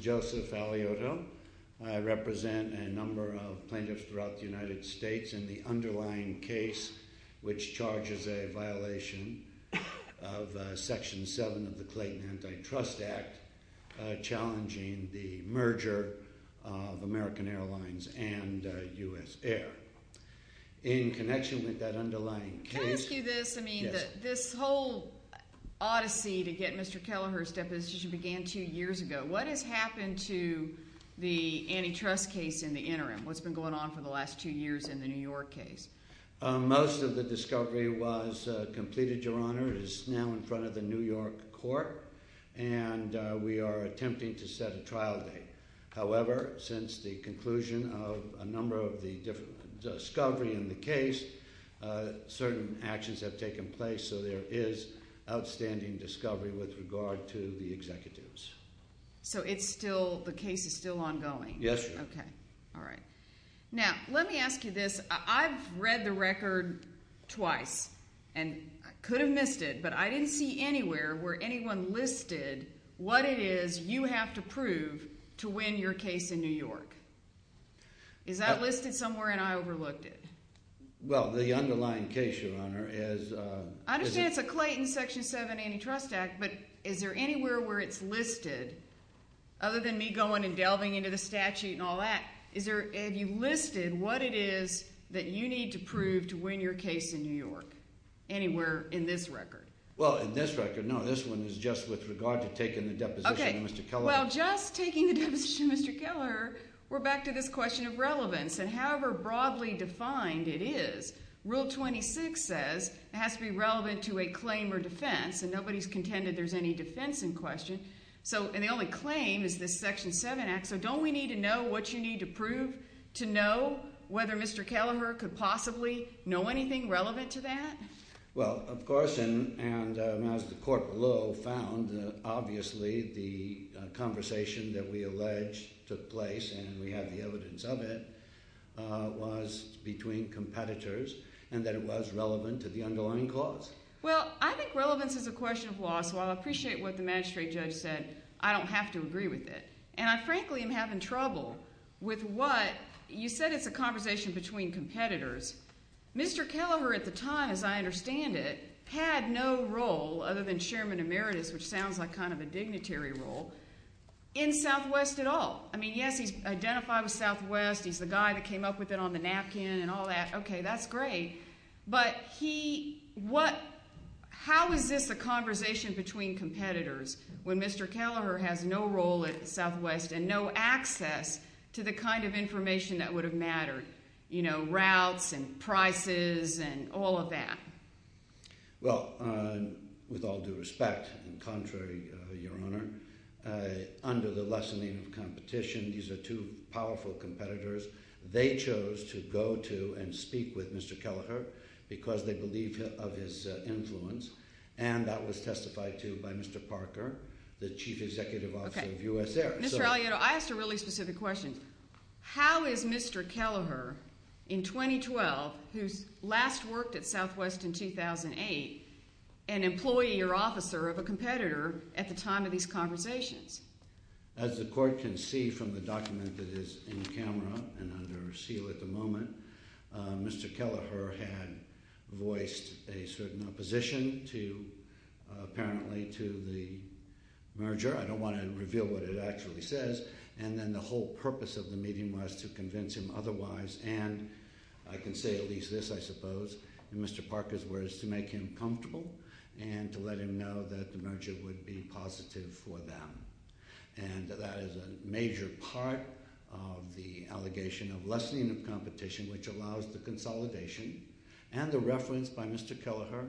Joseph Alioto v. Clayton Antitrust Act This whole odyssey to get Mr. Kelleher's deposition began two years ago. What has happened to the antitrust case in the interim? What's been going on for the last two years in the New York case? Most of the discovery was completed, Your Honor. It is now in front of the New York court, and we are attempting to set a trial date. However, since the conclusion of a number of the discovery in the case, certain actions have taken place, so there is outstanding discovery with regard to the executives. So it's still – the case is still ongoing? Yes, Your Honor. Okay. All right. Now, let me ask you this. I've read the record twice and could have missed it, but I didn't see anywhere where anyone listed what it is you have to prove to win your case in New York. Is that listed somewhere, and I overlooked it? Well, the underlying case, Your Honor, is – I understand it's a Clayton Section 7 Antitrust Act, but is there anywhere where it's listed other than me going and delving into the statute and all that? Is there – have you listed what it is that you need to prove to win your case in New York anywhere in this record? Well, in this record, no. This one is just with regard to taking the deposition of Mr. Kelleher. Okay. Well, just taking the deposition of Mr. Kelleher, we're back to this question of relevance. And however broadly defined it is, Rule 26 says it has to be relevant to a claim or defense, and nobody's contended there's any defense in question. So – and the only claim is this Section 7 Act, so don't we need to know what you need to prove to know whether Mr. Kelleher could possibly know anything relevant to that? Well, of course, and as the court below found, obviously the conversation that we allege took place, and we have the evidence of it, was between competitors and that it was relevant to the underlying clause. Well, I think relevance is a question of law, so I'll appreciate what the magistrate judge said. I don't have to agree with it. And I frankly am having trouble with what – you said it's a conversation between competitors. Mr. Kelleher at the time, as I understand it, had no role other than Chairman Emeritus, which sounds like kind of a dignitary role, in Southwest at all. I mean, yes, he's identified with Southwest. He's the guy that came up with it on the napkin and all that. Okay, that's great. But he – what – how is this a conversation between competitors when Mr. Kelleher has no role at Southwest and no access to the kind of information that would have mattered, you know, routes and prices and all of that? Well, with all due respect, and contrary, Your Honor, under the lessening of competition, these are two powerful competitors. They chose to go to and speak with Mr. Kelleher because they believe of his influence, and that was testified to by Mr. Parker, the chief executive officer of US Air. Mr. Alioto, I asked a really specific question. How is Mr. Kelleher, in 2012, who's last worked at Southwest in 2008, an employee or officer of a competitor at the time of these conversations? As the court can see from the document that is in camera and under seal at the moment, Mr. Kelleher had voiced a certain opposition to – apparently to the merger. I don't want to reveal what it actually says. And then the whole purpose of the meeting was to convince him otherwise, and I can say at least this, I suppose, in Mr. Parker's words, to make him comfortable and to let him know that the merger would be positive for them. And that is a major part of the allegation of lessening of competition, which allows the consolidation and the reference by Mr. Kelleher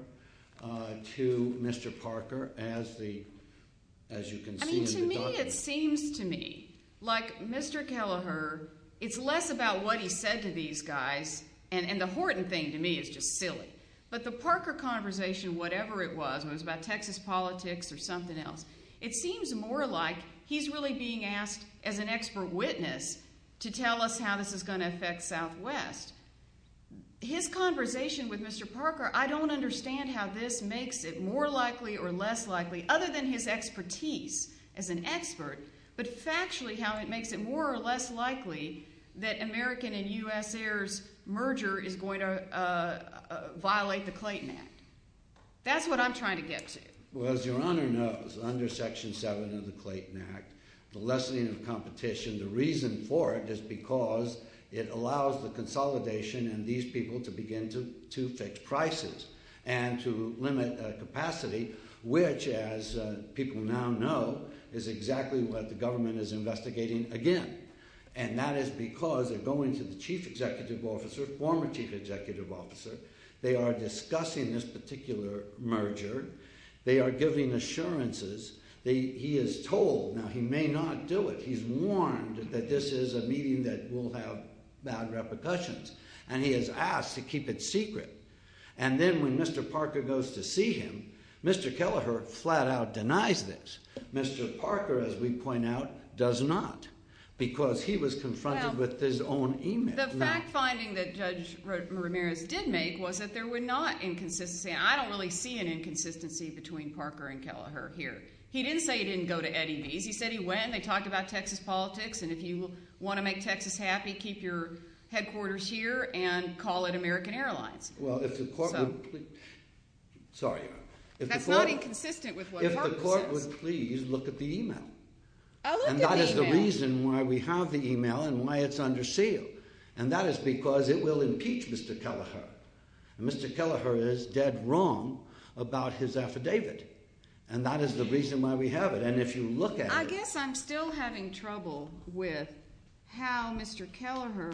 to Mr. Parker as you can see in the document. I mean, to me it seems to me like Mr. Kelleher, it's less about what he said to these guys, and the Horton thing to me is just silly, but the Parker conversation, whatever it was, whether it was about Texas politics or something else, it seems more like he's really being asked as an expert witness to tell us how this is going to affect Southwest. His conversation with Mr. Parker, I don't understand how this makes it more likely or less likely, other than his expertise as an expert, but factually how it makes it more or less likely that American and U.S. heirs merger is going to violate the Clayton Act. That's what I'm trying to get to. Well, as Your Honor knows, under Section 7 of the Clayton Act, the lessening of competition, the reason for it is because it allows the consolidation and these people to begin to fix prices and to limit capacity, which, as people now know, is exactly what the government is investigating again. And that is because they're going to the chief executive officer, former chief executive officer, they are discussing this particular merger, they are giving assurances. He is told, now he may not do it, he's warned that this is a meeting that will have bad repercussions, and he is asked to keep it secret. And then when Mr. Parker goes to see him, Mr. Kelleher flat out denies this. Mr. Parker, as we point out, does not because he was confronted with his own email. The fact finding that Judge Ramirez did make was that there were not inconsistencies. I don't really see an inconsistency between Parker and Kelleher here. He didn't say he didn't go to Eddie V's. He said he went, they talked about Texas politics, and if you want to make Texas happy, keep your headquarters here and call it American Airlines. Well, if the court would please... Sorry, Your Honor. That's not inconsistent with what Parker says. If the court would please look at the email. And that is the reason why we have the email and why it's under seal, and that is because it will impeach Mr. Kelleher. Mr. Kelleher is dead wrong about his affidavit, and that is the reason why we have it. And if you look at it... I guess I'm still having trouble with how Mr. Kelleher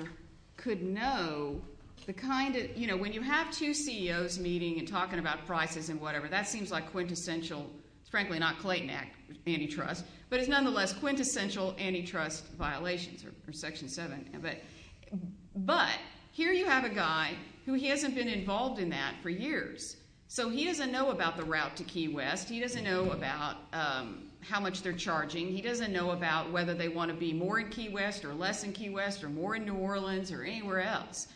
could know the kind of... You know, when you have two CEOs meeting and talking about prices and whatever, that seems like quintessential, frankly, not Clayton Act antitrust, but it's nonetheless quintessential antitrust violations or Section 7. But here you have a guy who he hasn't been involved in that for years, so he doesn't know about the route to Key West. He doesn't know about how much they're charging. He doesn't know about whether they want to be more in Key West or less in Key West or more in New Orleans or anywhere else,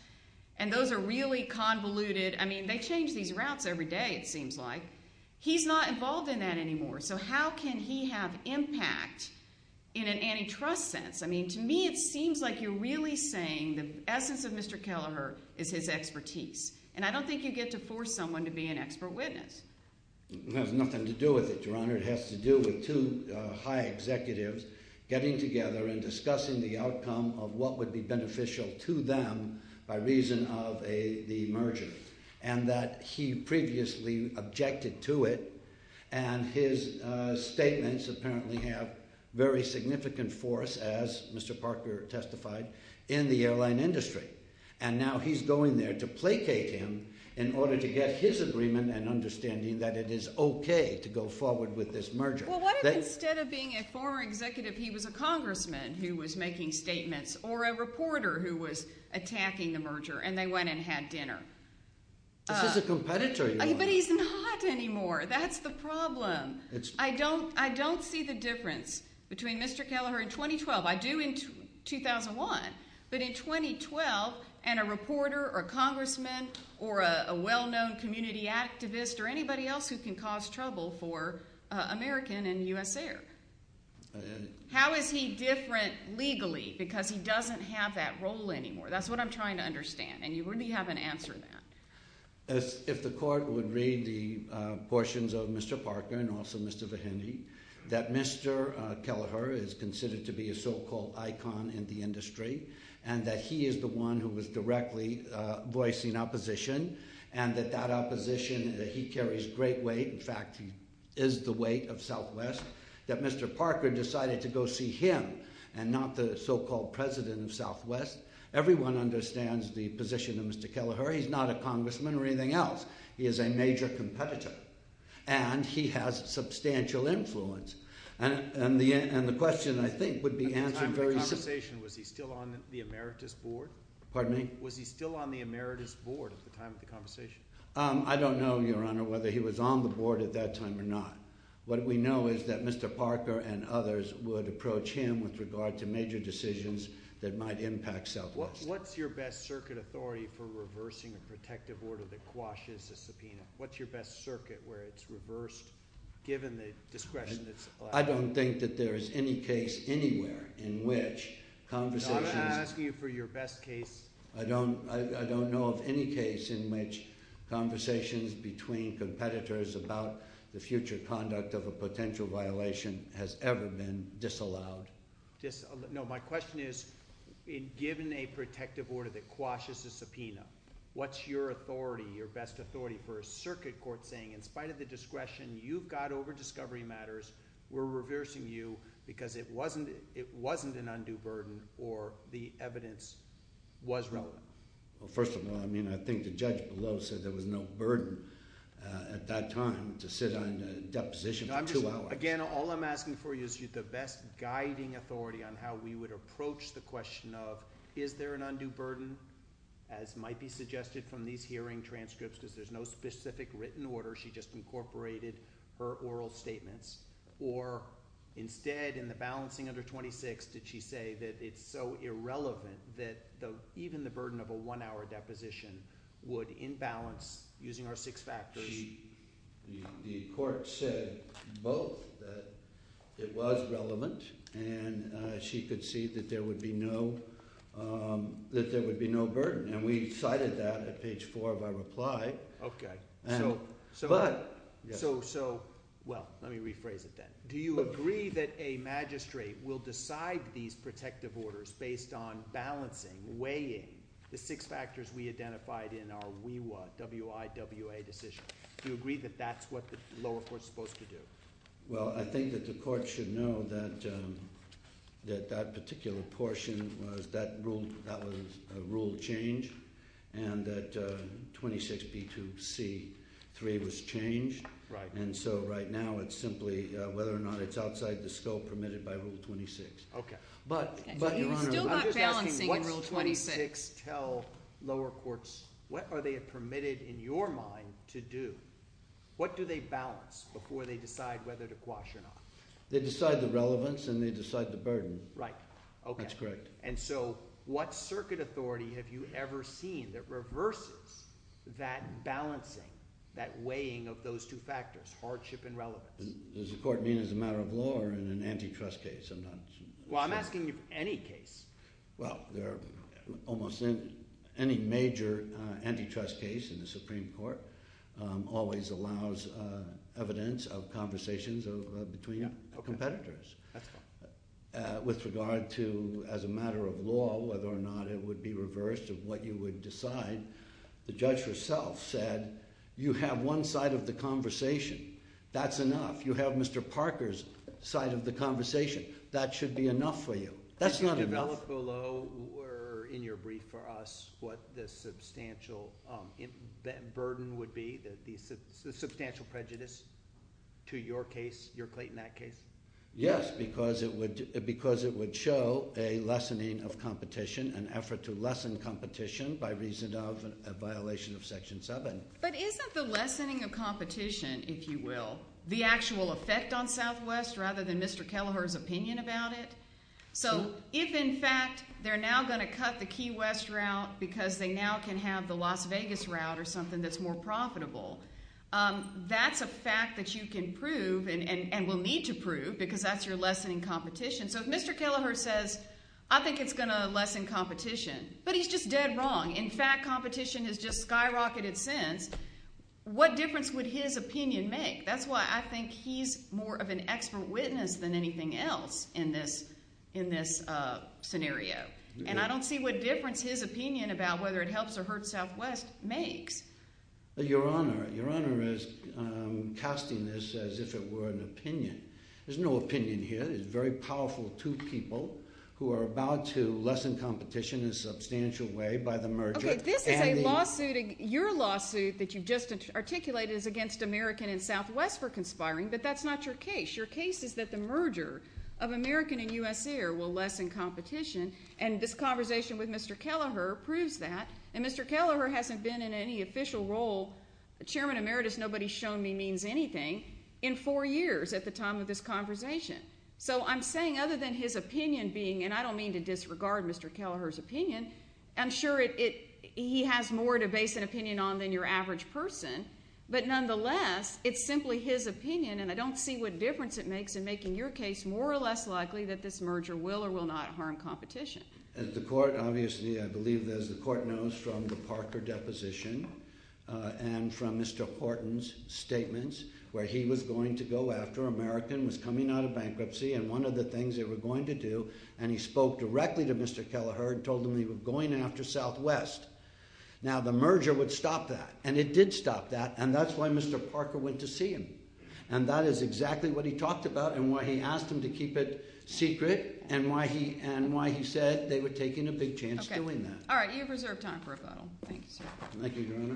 and those are really convoluted. I mean, they change these routes every day, it seems like. He's not involved in that anymore, so how can he have impact in an antitrust sense? I mean, to me it seems like you're really saying the essence of Mr. Kelleher is his expertise, and I don't think you get to force someone to be an expert witness. It has nothing to do with it, Your Honor. It has to do with two high executives getting together and discussing the outcome of what would be beneficial to them by reason of the merger and that he previously objected to it, and his statements apparently have very significant force, as Mr. Parker testified, in the airline industry, and now he's going there to placate him in order to get his agreement and understanding that it is okay to go forward with this merger. Well, what if instead of being a former executive he was a congressman who was making statements or a reporter who was attacking the merger and they went and had dinner? This is a competitor, Your Honor. But he's not anymore. That's the problem. I don't see the difference between Mr. Kelleher in 2012. I do in 2001, but in 2012 and a reporter or a congressman or a well-known community activist or anybody else who can cause trouble for American and USAir. How is he different legally because he doesn't have that role anymore? That's what I'm trying to understand, and you really haven't answered that. If the court would read the portions of Mr. Parker and also Mr. Vahiny, that Mr. Kelleher is considered to be a so-called icon in the industry and that he is the one who was directly voicing opposition and that that opposition, that he carries great weight. In fact, he is the weight of Southwest. That Mr. Parker decided to go see him and not the so-called president of Southwest. Everyone understands the position of Mr. Kelleher. He's not a congressman or anything else. He is a major competitor, and he has substantial influence. And the question, I think, would be answered very simply. At the time of the conversation, was he still on the emeritus board? Pardon me? Was he still on the emeritus board at the time of the conversation? I don't know, Your Honor, whether he was on the board at that time or not. What we know is that Mr. Parker and others would approach him with regard to major decisions that might impact Southwest. What's your best circuit authority for reversing a protective order that quashes a subpoena? What's your best circuit where it's reversed given the discretion that's allowed? I don't think that there is any case anywhere in which conversations— I don't know of any case in which conversations between competitors about the future conduct of a potential violation has ever been disallowed. No, my question is, given a protective order that quashes a subpoena, what's your authority, your best authority for a circuit court saying, in spite of the discretion you've got over discovery matters, we're reversing you because it wasn't an undue burden or the evidence was relevant? Well, first of all, I think the judge below said there was no burden at that time to sit on a deposition for two hours. Again, all I'm asking for you is the best guiding authority on how we would approach the question of is there an undue burden, as might be suggested from these hearing transcripts, because there's no specific written order. She just incorporated her oral statements. Or instead, in the balancing under 26, did she say that it's so irrelevant that even the burden of a one-hour deposition would imbalance using our six factors? The court said both, that it was relevant, and she conceded that there would be no burden. And we cited that at page 4 of our reply. Okay. So, well, let me rephrase it then. Do you agree that a magistrate will decide these protective orders based on balancing, weighing the six factors we identified in our WIWA decision? Do you agree that that's what the lower court is supposed to do? Well, I think that the court should know that that particular portion, that was a rule change, and that 26B2C3 was changed. And so right now it's simply whether or not it's outside the scope permitted by Rule 26. Okay. But, Your Honor, I'm just asking what does 26 tell lower courts? What are they permitted, in your mind, to do? What do they balance before they decide whether to quash or not? They decide the relevance and they decide the burden. Right. Okay. That's correct. And so what circuit authority have you ever seen that reverses that balancing, that weighing of those two factors, hardship and relevance? Does the court mean as a matter of law or in an antitrust case? Well, I'm asking you for any case. Well, almost any major antitrust case in the Supreme Court always allows evidence of conversations between competitors. Okay. That's fine. With regard to, as a matter of law, whether or not it would be reversed of what you would decide, the judge herself said you have one side of the conversation. That's enough. You have Mr. Parker's side of the conversation. That should be enough for you. That's not enough. Could you develop below or in your brief for us what the substantial burden would be, the substantial prejudice to your case, your Clayton Act case? Yes, because it would show a lessening of competition, an effort to lessen competition by reason of a violation of Section 7. But isn't the lessening of competition, if you will, the actual effect on Southwest rather than Mr. Kelleher's opinion about it? So if, in fact, they're now going to cut the Key West route because they now can have the Las Vegas route or something that's more profitable, that's a fact that you can prove and will need to prove because that's your lessening competition. So if Mr. Kelleher says, I think it's going to lessen competition, but he's just dead wrong. In fact, competition has just skyrocketed since. What difference would his opinion make? That's why I think he's more of an expert witness than anything else in this scenario. And I don't see what difference his opinion about whether it helps or hurts Southwest makes. Your Honor, your Honor is casting this as if it were an opinion. There's no opinion here. There's very powerful two people who are about to lessen competition in a substantial way by the merger. Okay, this is a lawsuit. Your lawsuit that you just articulated is against American and Southwest for conspiring, but that's not your case. Your case is that the merger of American and U.S. Air will lessen competition, and this conversation with Mr. Kelleher proves that. And Mr. Kelleher hasn't been in any official role, Chairman Emeritus nobody's shown me means anything, in four years at the time of this conversation. So I'm saying other than his opinion being, and I don't mean to disregard Mr. Kelleher's opinion, I'm sure he has more to base an opinion on than your average person, but nonetheless, it's simply his opinion, and I don't see what difference it makes in making your case more or less likely that this merger will or will not harm competition. As the court, obviously, I believe as the court knows from the Parker deposition and from Mr. Horton's statements, where he was going to go after American, was coming out of bankruptcy, and one of the things they were going to do, and he spoke directly to Mr. Kelleher and told him he was going after Southwest. Now the merger would stop that, and it did stop that, and that's why Mr. Parker went to see him. And that is exactly what he talked about and why he asked him to keep it secret, and why he said they were taking a big chance doing that. All right. You have reserved time for a bottle. Thank you, sir. Thank you, Your Honor.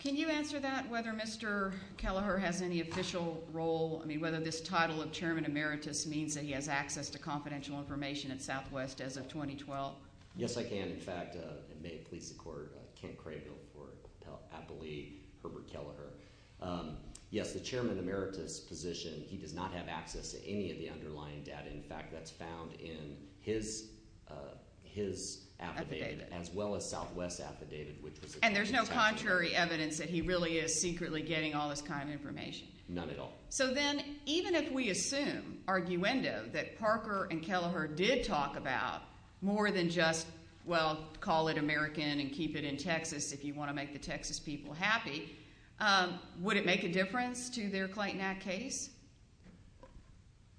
Can you answer that, whether Mr. Kelleher has any official role, I mean whether this title of Chairman Emeritus means that he has access to confidential information at Southwest as of 2012? Yes, I can. In fact, it may please the Court. I can't crave it for appellee Herbert Kelleher. Yes, the Chairman Emeritus position, he does not have access to any of the underlying data. In fact, that's found in his affidavit as well as Southwest's affidavit, which was at the time. And there's no contrary evidence that he really is secretly getting all this kind of information? None at all. So then even if we assume, arguendo, that Parker and Kelleher did talk about more than just, well, call it American and keep it in Texas if you want to make the Texas people happy, would it make a difference to their Clayton Act case?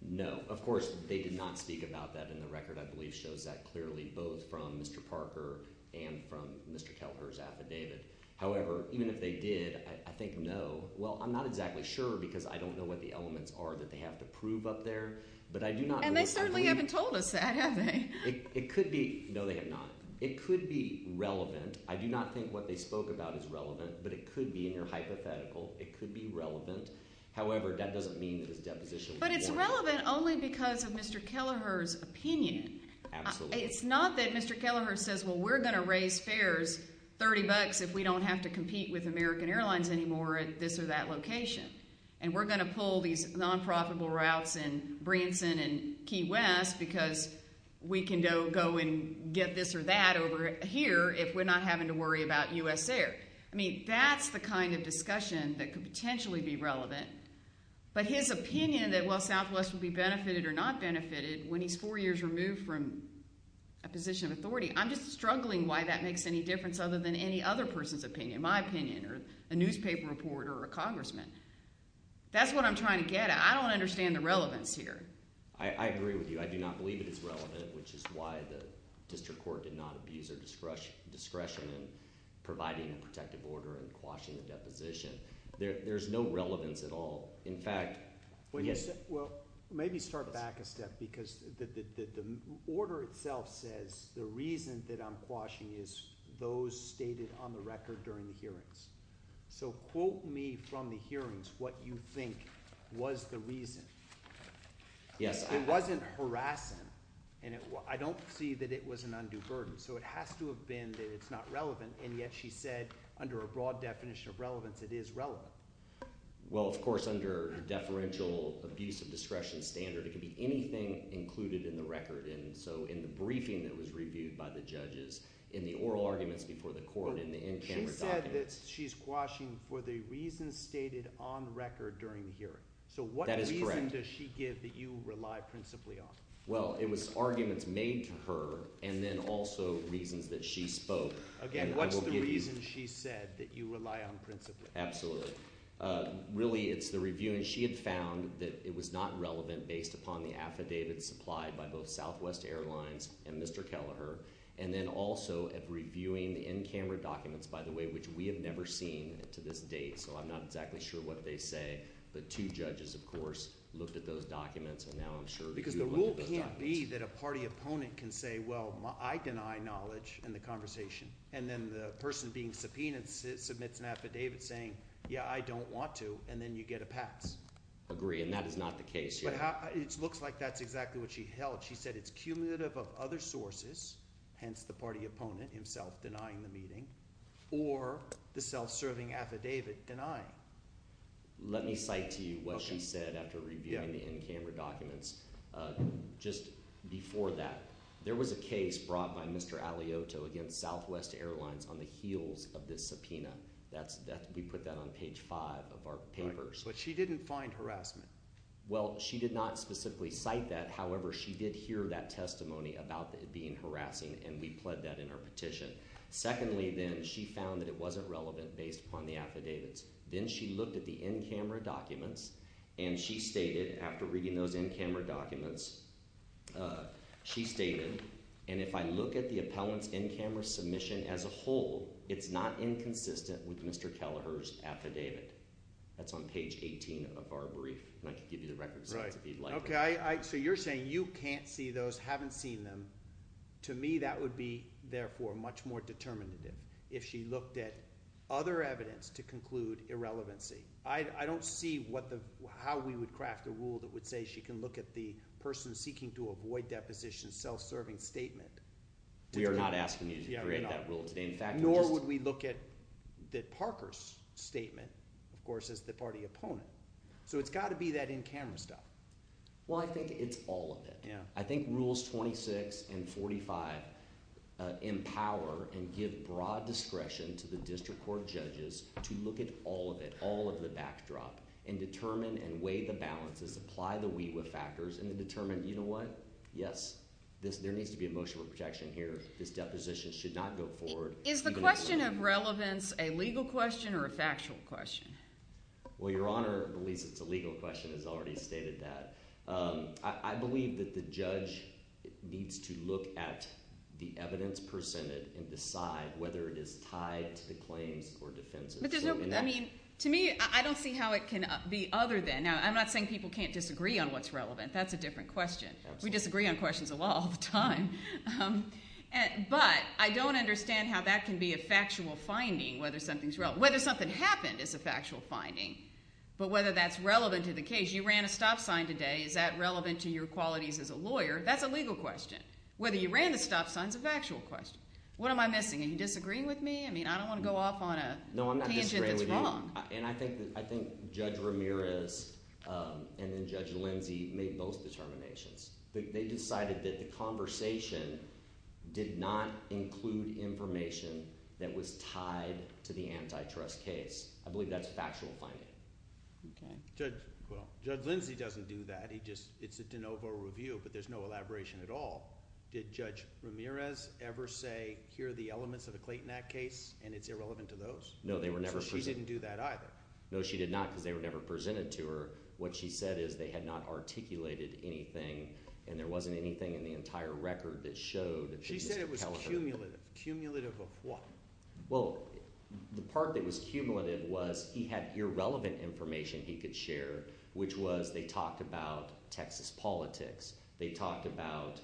No. Of course, they did not speak about that, and the record, I believe, shows that clearly both from Mr. Parker and from Mr. Kelleher's affidavit. However, even if they did, I think no – well, I'm not exactly sure because I don't know what the elements are that they have to prove up there. And they certainly haven't told us that, have they? It could be – no, they have not. It could be relevant. I do not think what they spoke about is relevant, but it could be, and you're hypothetical. It could be relevant. However, that doesn't mean that his deposition was warranted. But it's relevant only because of Mr. Kelleher's opinion. Absolutely. So it's not that Mr. Kelleher says, well, we're going to raise fares 30 bucks if we don't have to compete with American Airlines anymore at this or that location, and we're going to pull these non-profitable routes in Branson and Key West because we can go and get this or that over here if we're not having to worry about U.S. Air. I mean that's the kind of discussion that could potentially be relevant. But his opinion that, well, Southwest will be benefited or not benefited when he's four years removed from a position of authority, I'm just struggling why that makes any difference other than any other person's opinion, my opinion or a newspaper reporter or a congressman. That's what I'm trying to get at. I don't understand the relevance here. I agree with you. I do not believe it is relevant, which is why the district court did not abuse our discretion in providing a protective order and quashing the deposition. There's no relevance at all. Well, maybe start back a step because the order itself says the reason that I'm quashing is those stated on the record during the hearings. So quote me from the hearings what you think was the reason. It wasn't harassing, and I don't see that it was an undue burden. So it has to have been that it's not relevant, and yet she said under a broad definition of relevance it is relevant. Well, of course, under the deferential abuse of discretion standard, it could be anything included in the record. And so in the briefing that was reviewed by the judges, in the oral arguments before the court, in the in-camera documents. She said that she's quashing for the reasons stated on record during the hearing. That is correct. So what reason does she give that you rely principally on? Well, it was arguments made to her and then also reasons that she spoke. Again, what's the reason she said that you rely on principally? Absolutely. Really, it's the review, and she had found that it was not relevant based upon the affidavit supplied by both Southwest Airlines and Mr. Kelleher. And then also at reviewing the in-camera documents, by the way, which we have never seen to this date. So I'm not exactly sure what they say, but two judges, of course, looked at those documents, and now I'm sure you looked at those documents. Because the rule can't be that a party opponent can say, well, I deny knowledge in the conversation. And then the person being subpoenaed submits an affidavit saying, yeah, I don't want to, and then you get a pass. Agree, and that is not the case here. It looks like that's exactly what she held. She said it's cumulative of other sources, hence the party opponent himself denying the meeting, or the self-serving affidavit denying. Let me cite to you what she said after reviewing the in-camera documents. Just before that, there was a case brought by Mr. Aliotto against Southwest Airlines on the heels of this subpoena. We put that on page 5 of our papers. But she didn't find harassment. Well, she did not specifically cite that. However, she did hear that testimony about it being harassing, and we pled that in our petition. Secondly, then, she found that it wasn't relevant based upon the affidavits. Then she looked at the in-camera documents, and she stated, after reading those in-camera documents, she stated, and if I look at the appellant's in-camera submission as a whole, it's not inconsistent with Mr. Kelleher's affidavit. That's on page 18 of our brief. And I can give you the records, if you'd like. So you're saying you can't see those, haven't seen them. To me, that would be, therefore, much more determinative. If she looked at other evidence to conclude irrelevancy. I don't see how we would craft a rule that would say she can look at the person seeking to avoid deposition's self-serving statement. We are not asking you to create that rule today. Nor would we look at Parker's statement, of course, as the party opponent. So it's got to be that in-camera stuff. Well, I think it's all of it. I think Rules 26 and 45 empower and give broad discretion to the district court judges to look at all of it, all of the backdrop, and determine and weigh the balances, apply the WIWA factors, and determine, you know what? Yes, there needs to be a motion for protection here. This deposition should not go forward. Is the question of relevance a legal question or a factual question? Well, Your Honor believes it's a legal question and has already stated that. I believe that the judge needs to look at the evidence presented and decide whether it is tied to the claims or defenses. To me, I don't see how it can be other than. Now, I'm not saying people can't disagree on what's relevant. That's a different question. We disagree on questions of law all the time. But I don't understand how that can be a factual finding, whether something's relevant. Whether something happened is a factual finding, but whether that's relevant to the case. You ran a stop sign today. Is that relevant to your qualities as a lawyer? That's a legal question. Whether you ran the stop sign is a factual question. What am I missing? Are you disagreeing with me? I mean I don't want to go off on a tangent that's wrong. No, I'm not disagreeing with you, and I think Judge Ramirez and then Judge Lindsey made both determinations. They decided that the conversation did not include information that was tied to the antitrust case. I believe that's factual finding. Judge Lindsey doesn't do that. It's a de novo review, but there's no elaboration at all. Did Judge Ramirez ever say, here are the elements of the Clayton Act case, and it's irrelevant to those? No, they were never presented. So she didn't do that either? No, she did not because they were never presented to her. What she said is they had not articulated anything, and there wasn't anything in the entire record that showed – She said it was cumulative. Cumulative of what? Well, the part that was cumulative was he had irrelevant information he could share, which was they talked about Texas politics. They talked about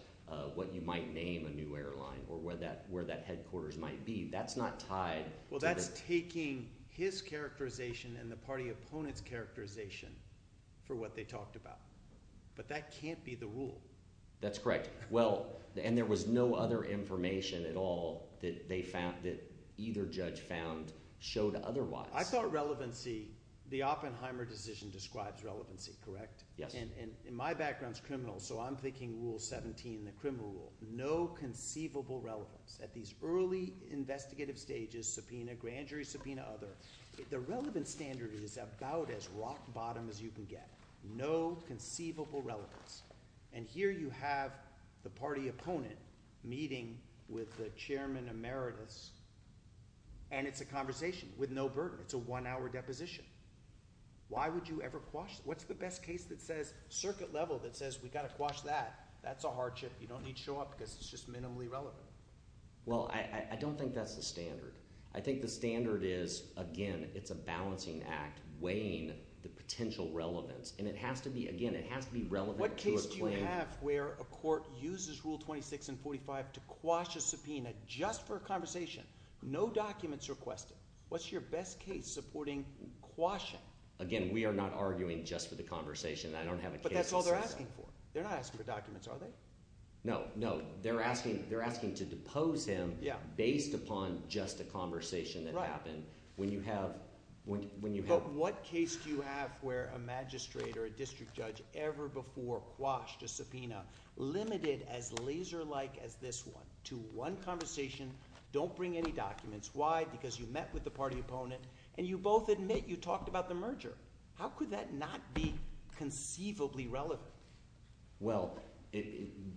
what you might name a new airline or where that headquarters might be. That's not tied to the – Well, that's taking his characterization and the party opponent's characterization for what they talked about, but that can't be the rule. That's correct. And there was no other information at all that either judge found showed otherwise. I thought relevancy – the Oppenheimer decision describes relevancy, correct? Yes. And my background is criminal, so I'm thinking Rule 17, the criminal rule. No conceivable relevance. At these early investigative stages, subpoena, grand jury subpoena, other, the relevance standard is about as rock bottom as you can get. No conceivable relevance. And here you have the party opponent meeting with the chairman emeritus, and it's a conversation with no burden. It's a one-hour deposition. Why would you ever quash – what's the best case that says – circuit level that says we've got to quash that? That's a hardship. You don't need to show up because it's just minimally relevant. Well, I don't think that's the standard. I think the standard is, again, it's a balancing act weighing the potential relevance, and it has to be – again, it has to be relevant. What case do you have where a court uses Rule 26 and 45 to quash a subpoena just for a conversation, no documents requested? What's your best case supporting quashing? Again, we are not arguing just for the conversation. I don't have a case that says that. But that's all they're asking for. They're not asking for documents, are they? No, no. They're asking to depose him based upon just a conversation that happened. Right. When you have – What case do you have where a magistrate or a district judge ever before quashed a subpoena limited as laser-like as this one to one conversation, don't bring any documents? Why? Because you met with the party opponent, and you both admit you talked about the merger. How could that not be conceivably relevant? Well,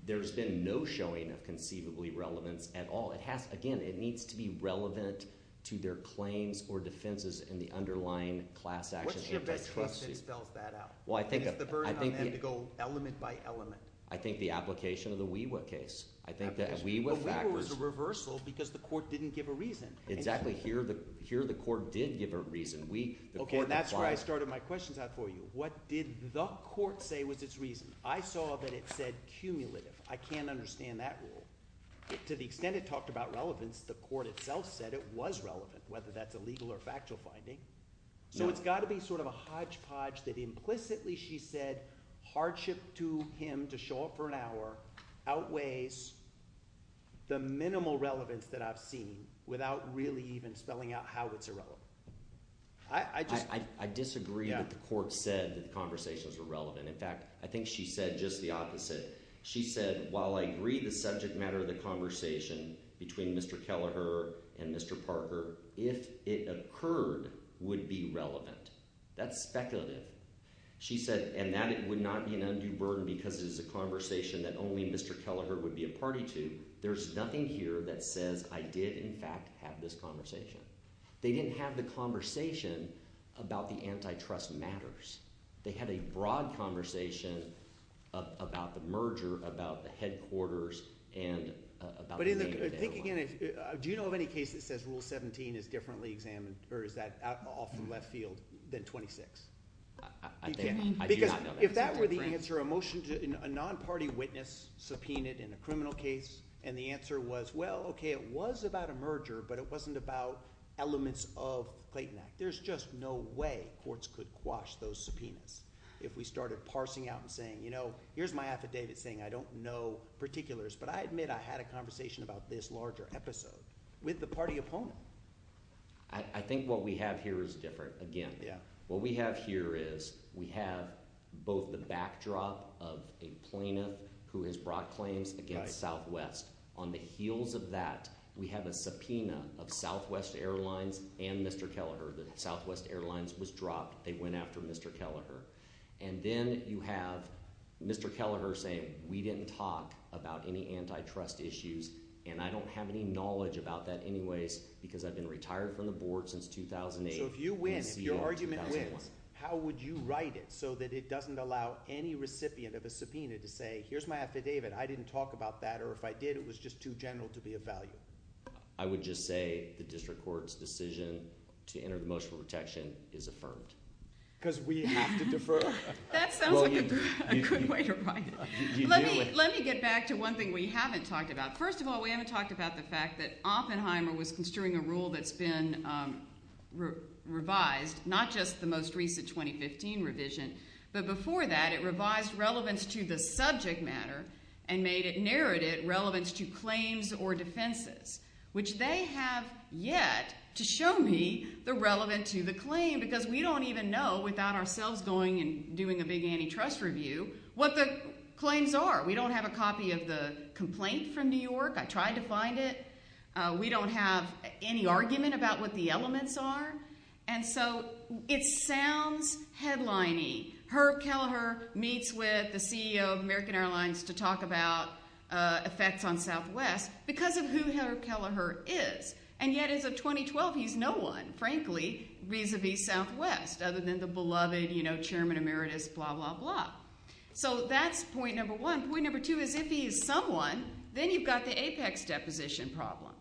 there's been no showing of conceivably relevance at all. Again, it needs to be relevant to their claims or defenses in the underlying class action antitrust suit. What's your best case that spells that out? Well, I think – It's the burden on them to go element by element. I think the application of the WeWa case. I think that WeWa factors – But WeWa was a reversal because the court didn't give a reason. Exactly. Here the court did give a reason. Okay, and that's where I started my questions out for you. What did the court say was its reason? I saw that it said cumulative. I can't understand that rule. To the extent it talked about relevance, the court itself said it was relevant, whether that's a legal or factual finding. So it's got to be sort of a hodgepodge that implicitly she said hardship to him to show up for an hour outweighs the minimal relevance that I've seen without really even spelling out how it's irrelevant. I just – I disagree that the court said that the conversations were relevant. In fact, I think she said just the opposite. She said while I agree the subject matter of the conversation between Mr. Kelleher and Mr. Parker, if it occurred would be relevant. That's speculative. She said and that it would not be an undue burden because it is a conversation that only Mr. Kelleher would be a party to. There's nothing here that says I did, in fact, have this conversation. They didn't have the conversation about the antitrust matters. They had a broad conversation about the merger, about the headquarters, and about the name of the airline. Do you know of any case that says Rule 17 is differently examined or is that off the left field than 26? I do not know that. Because if that were the answer, a non-party witness subpoenaed in a criminal case, and the answer was, well, okay, it was about a merger, but it wasn't about elements of the Clayton Act. There's just no way courts could quash those subpoenas if we started parsing out and saying here's my affidavit saying I don't know particulars, but I admit I had a conversation about this larger episode with the party opponent. I think what we have here is different again. What we have here is we have both the backdrop of a plaintiff who has brought claims against Southwest. On the heels of that, we have a subpoena of Southwest Airlines and Mr. Kelleher. Southwest Airlines was dropped. They went after Mr. Kelleher. And then you have Mr. Kelleher saying we didn't talk about any antitrust issues, and I don't have any knowledge about that anyways because I've been retired from the board since 2008. So if you win, if your argument wins, how would you write it so that it doesn't allow any recipient of a subpoena to say here's my affidavit. I didn't talk about that, or if I did, it was just too general to be of value. I would just say the district court's decision to enter the motion for protection is affirmed. Because we have to defer. That sounds like a good way to write it. Let me get back to one thing we haven't talked about. First of all, we haven't talked about the fact that Oppenheimer was construing a rule that's been revised, not just the most recent 2015 revision. But before that, it revised relevance to the subject matter and made it, narrowed it, relevance to claims or defenses, which they have yet to show me the relevance to the claim. Because we don't even know without ourselves going and doing a big antitrust review what the claims are. We don't have a copy of the complaint from New York. I tried to find it. We don't have any argument about what the elements are. And so it sounds headlining. Herb Kelleher meets with the CEO of American Airlines to talk about effects on Southwest because of who Herb Kelleher is. And yet as of 2012, he's no one, frankly, vis-a-vis Southwest other than the beloved chairman emeritus, blah, blah, blah. So that's point number one. Point number two is if he is someone, then you've got the Apex deposition problem.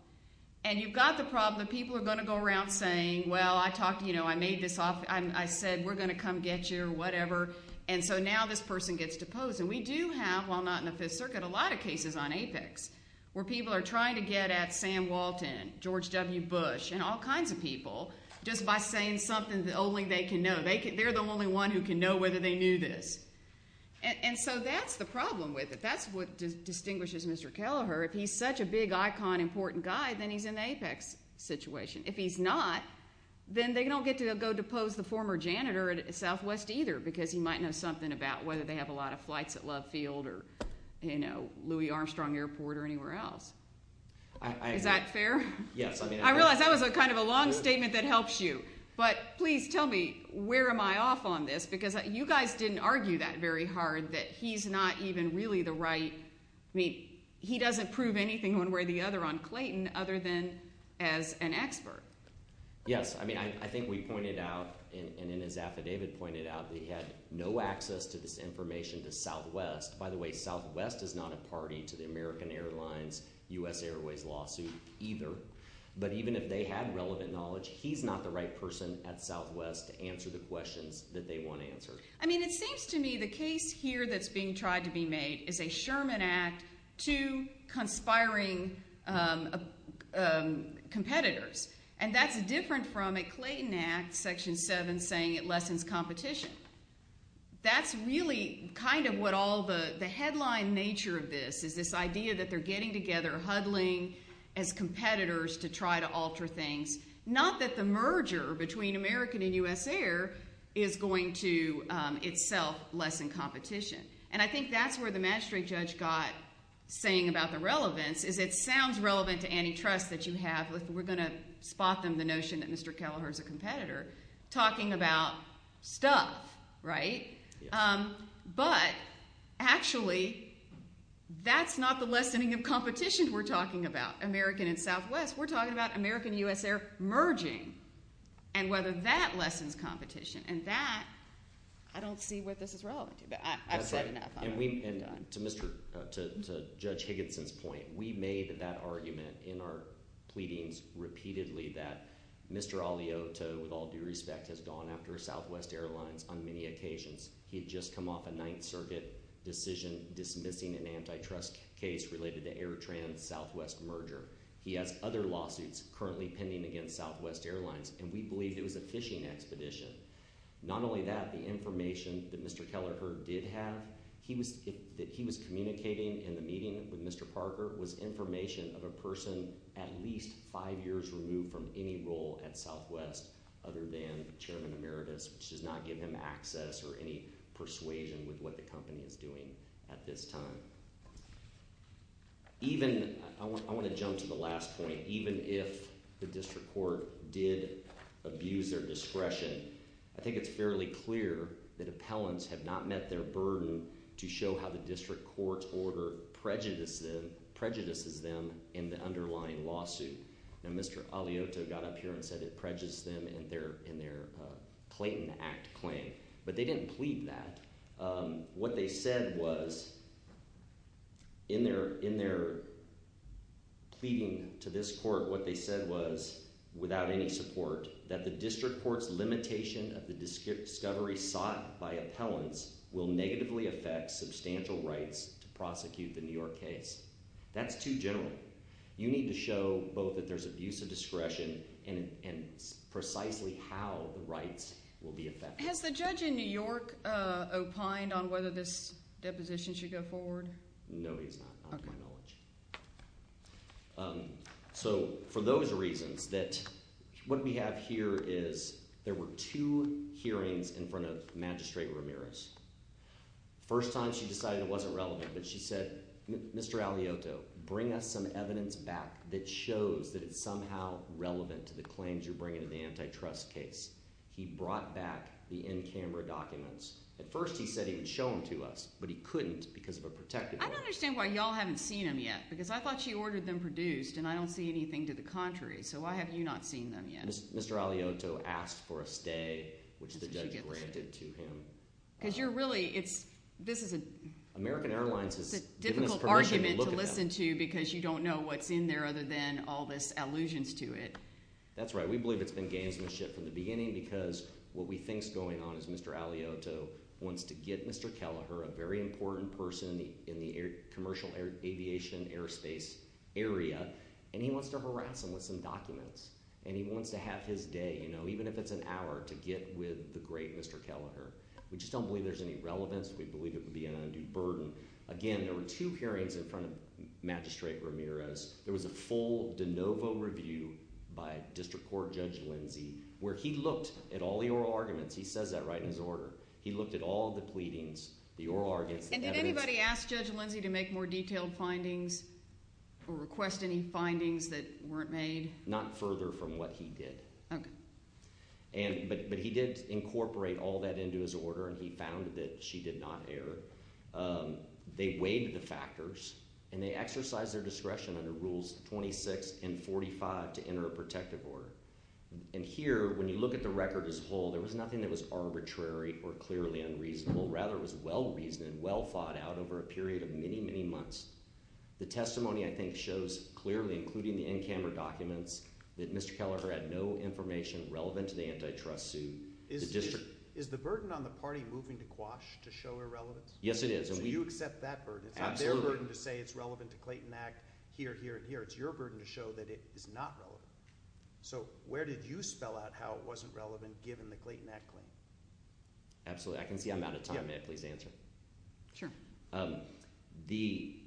And you've got the problem that people are going to go around saying, well, I talked to you, I made this off, I said we're going to come get you or whatever. And so now this person gets deposed. And we do have, while not in the Fifth Circuit, a lot of cases on Apex where people are trying to get at Sam Walton, George W. Bush and all kinds of people just by saying something that only they can know. They're the only one who can know whether they knew this. And so that's the problem with it. That's what distinguishes Mr. Kelleher. If he's such a big icon, important guy, then he's in the Apex situation. If he's not, then they don't get to go depose the former janitor at Southwest either because he might know something about whether they have a lot of flights at Love Field or Louis Armstrong Airport or anywhere else. Is that fair? Yes. I realize that was kind of a long statement that helps you. But please tell me where am I off on this because you guys didn't argue that very hard that he's not even really the right – he doesn't prove anything one way or the other on Clayton other than as an expert. Yes. I mean I think we pointed out, and in his affidavit pointed out, that he had no access to this information to Southwest. By the way, Southwest is not a party to the American Airlines U.S. Airways lawsuit either. But even if they had relevant knowledge, he's not the right person at Southwest to answer the questions that they want answered. I mean it seems to me the case here that's being tried to be made is a Sherman Act to conspiring competitors. And that's different from a Clayton Act, Section 7, saying it lessens competition. That's really kind of what all the headline nature of this is, this idea that they're getting together, huddling as competitors to try to alter things. Not that the merger between American and U.S. Air is going to itself lessen competition. And I think that's where the magistrate judge got saying about the relevance is it sounds relevant to antitrust that you have. We're going to spot them the notion that Mr. Kelleher is a competitor talking about stuff, right? But actually that's not the lessening of competition we're talking about, American and Southwest. We're talking about American and U.S. Air merging and whether that lessens competition. And that, I don't see what this is relevant to. But I've said enough. And to Judge Higginson's point, we made that argument in our pleadings repeatedly that Mr. Alioto, with all due respect, has gone after Southwest Airlines on many occasions. He had just come off a Ninth Circuit decision dismissing an antitrust case related to Air Trans Southwest merger. He has other lawsuits currently pending against Southwest Airlines. And we believe it was a phishing expedition. Not only that, the information that Mr. Kelleher did have that he was communicating in the meeting with Mr. Parker was information of a person at least five years removed from any role at Southwest other than Chairman Emeritus, which does not give him access or any persuasion with what the company is doing at this time. Even – I want to jump to the last point. Even if the district court did abuse their discretion, I think it's fairly clear that appellants have not met their burden to show how the district court's order prejudices them in the underlying lawsuit. Now, Mr. Alioto got up here and said it prejudiced them in their Clayton Act claim, but they didn't plead that. What they said was – in their pleading to this court, what they said was, without any support, that the district court's limitation of the discovery sought by appellants will negatively affect substantial rights to prosecute the New York case. That's too general. You need to show both that there's abuse of discretion and precisely how the rights will be affected. Has the judge in New York opined on whether this deposition should go forward? No, he's not, to my knowledge. Okay. At first he said he would show them to us, but he couldn't because of a protected order. I don't understand why y'all haven't seen them yet because I thought she ordered them produced, and I don't see anything to the contrary. So why have you not seen them yet? Mr. Alioto asked for a stay, which the judge granted to him. Because you're really – this is a difficult argument to listen to because you don't know what's in there other than all this allusions to it. That's right. We believe it's been gamesmanship from the beginning because what we think's going on is Mr. Alioto wants to get Mr. Kelleher, a very important person in the commercial aviation and airspace area, and he wants to harass him with some documents. And he wants to have his day, even if it's an hour, to get with the great Mr. Kelleher. We just don't believe there's any relevance. We believe it would be an undue burden. Again, there were two hearings in front of Magistrate Ramirez. There was a full de novo review by District Court Judge Lindsey where he looked at all the oral arguments. He says that right in his order. He looked at all the pleadings, the oral arguments, the evidence. And did anybody ask Judge Lindsey to make more detailed findings or request any findings that weren't made? Not further from what he did. Okay. But he did incorporate all that into his order, and he found that she did not err. They weighed the factors, and they exercised their discretion under Rules 26 and 45 to enter a protective order. And here, when you look at the record as a whole, there was nothing that was arbitrary or clearly unreasonable. Rather, it was well-reasoned, well-thought-out over a period of many, many months. The testimony, I think, shows clearly, including the in-camera documents, that Mr. Kelleher had no information relevant to the antitrust suit. Is the burden on the party moving to Quash to show irrelevance? Yes, it is. So you accept that burden. Absolutely. It's not their burden to say it's relevant to Clayton Act here, here, and here. It's your burden to show that it is not relevant. So where did you spell out how it wasn't relevant given the Clayton Act claim? Absolutely. I can see I'm out of time. May I please answer? Sure. The –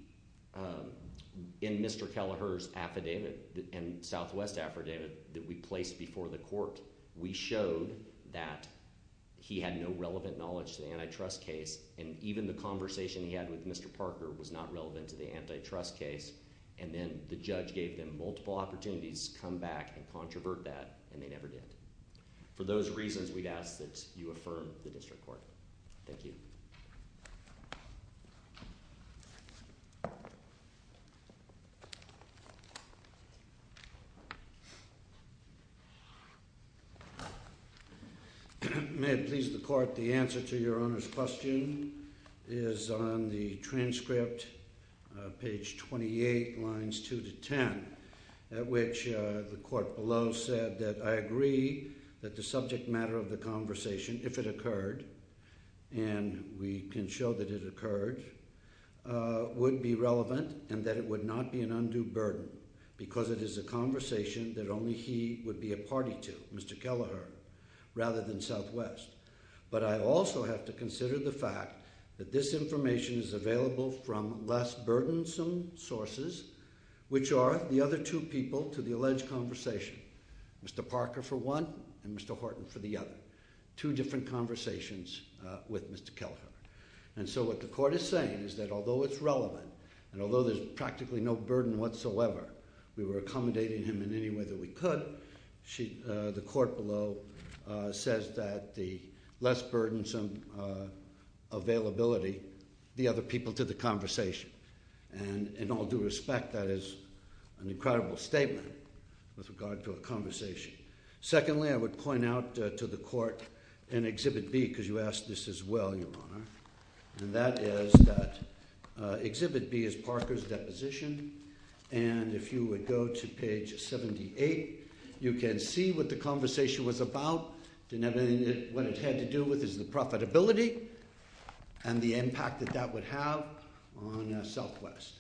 in Mr. Kelleher's affidavit and Southwest affidavit that we placed before the court, we showed that he had no relevant knowledge to the antitrust case. And even the conversation he had with Mr. Parker was not relevant to the antitrust case. And then the judge gave them multiple opportunities to come back and controvert that, and they never did. For those reasons, we'd ask that you affirm the district court. Thank you. Thank you. May it please the court, the answer to your Honor's question is on the transcript, page 28, lines 2 to 10, at which the court below said that I agree that the subject matter of the conversation, if it occurred, and we can show that it occurred, would be relevant and that it would not be an undue burden because it is a conversation that only he would be a party to, Mr. Kelleher, rather than Southwest. But I also have to consider the fact that this information is available from less burdensome sources, which are the other two people to the alleged conversation, Mr. Parker for one and Mr. Horton for the other. Two different conversations with Mr. Kelleher. And so what the court is saying is that although it's relevant and although there's practically no burden whatsoever, we were accommodating him in any way that we could, the court below says that the less burdensome availability, the other people to the conversation. And in all due respect, that is an incredible statement with regard to a conversation. Secondly, I would point out to the court in Exhibit B, because you asked this as well, Your Honor, and that is that Exhibit B is Parker's deposition. And if you would go to page 78, you can see what the conversation was about. What it had to do with is the profitability and the impact that that would have on Southwest.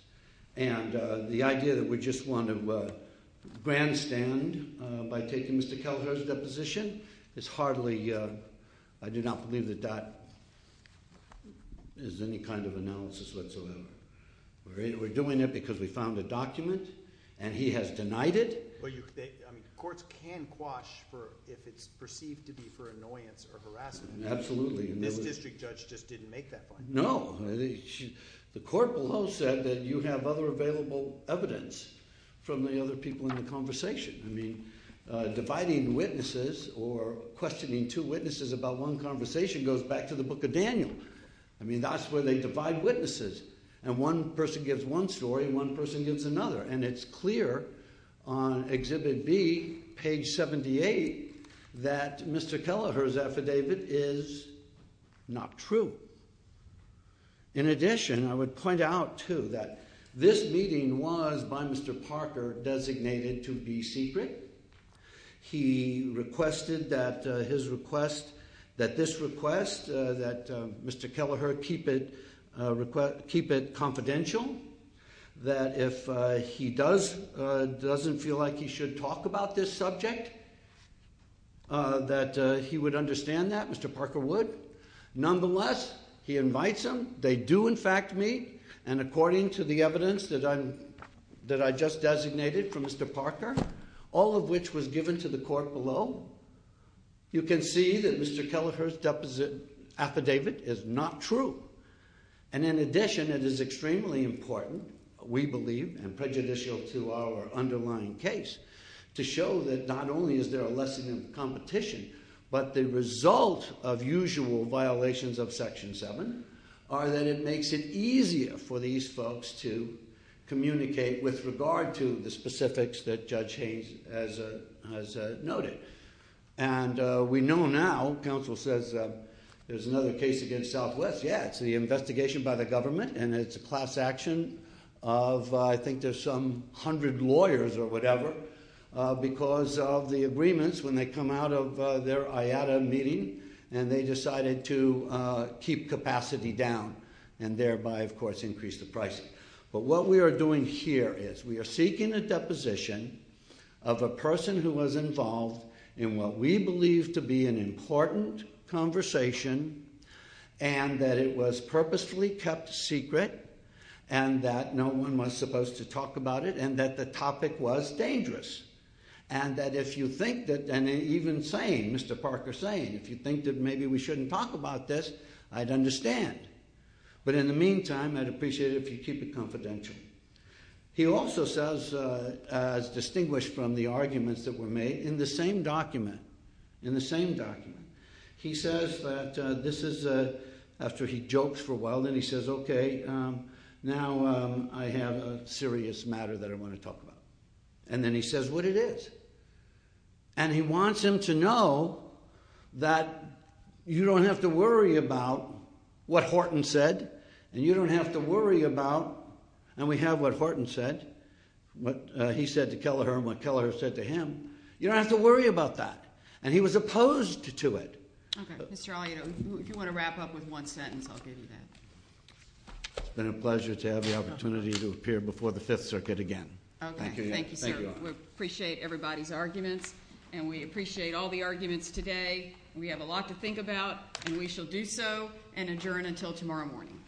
And the idea that we just want to grandstand by taking Mr. Kelleher's deposition is hardly – I do not believe that that is any kind of analysis whatsoever. We're doing it because we found a document and he has denied it. But courts can quash if it's perceived to be for annoyance or harassment. Absolutely. This district judge just didn't make that point. No. The court below said that you have other available evidence from the other people in the conversation. I mean dividing witnesses or questioning two witnesses about one conversation goes back to the Book of Daniel. I mean that's where they divide witnesses. And one person gives one story and one person gives another. And it's clear on Exhibit B, page 78, that Mr. Kelleher's affidavit is not true. In addition, I would point out, too, that this meeting was by Mr. Parker designated to be secret. He requested that this request, that Mr. Kelleher keep it confidential, that if he doesn't feel like he should talk about this subject, that he would understand that. Mr. Parker would. Nonetheless, he invites them. They do, in fact, meet. And according to the evidence that I just designated for Mr. Parker, all of which was given to the court below, you can see that Mr. Kelleher's affidavit is not true. And in addition, it is extremely important, we believe, and prejudicial to our underlying case, to show that not only is there a lesson in competition, but the result of usual violations of Section 7 are that it makes it easier for these folks to communicate with regard to the specifics that Judge Haynes has noted. And we know now, counsel says, there's another case against Southwest. Yeah, it's the investigation by the government, and it's a class action of I think there's some hundred lawyers or whatever, because of the agreements when they come out of their IATA meeting, and they decided to keep capacity down, and thereby, of course, increase the pricing. But what we are doing here is we are seeking a deposition of a person who was involved in what we believe to be an important conversation, and that it was purposefully kept secret, and that no one was supposed to talk about it, and that the topic was dangerous. And that if you think that, and even saying, Mr. Parker saying, if you think that maybe we shouldn't talk about this, I'd understand. But in the meantime, I'd appreciate it if you keep it confidential. He also says, as distinguished from the arguments that were made, in the same document, in the same document, he says that this is, after he jokes for a while, then he says, okay, now I have a serious matter that I want to talk about. And then he says what it is. And he wants him to know that you don't have to worry about what Horton said, and you don't have to worry about, and we have what Horton said, what he said to Kelleher and what Kelleher said to him, you don't have to worry about that. And he was opposed to it. Okay. Mr. Alito, if you want to wrap up with one sentence, I'll give you that. It's been a pleasure to have the opportunity to appear before the Fifth Circuit again. Okay. Thank you, sir. We appreciate everybody's arguments, and we appreciate all the arguments today. We have a lot to think about, and we shall do so and adjourn until tomorrow morning.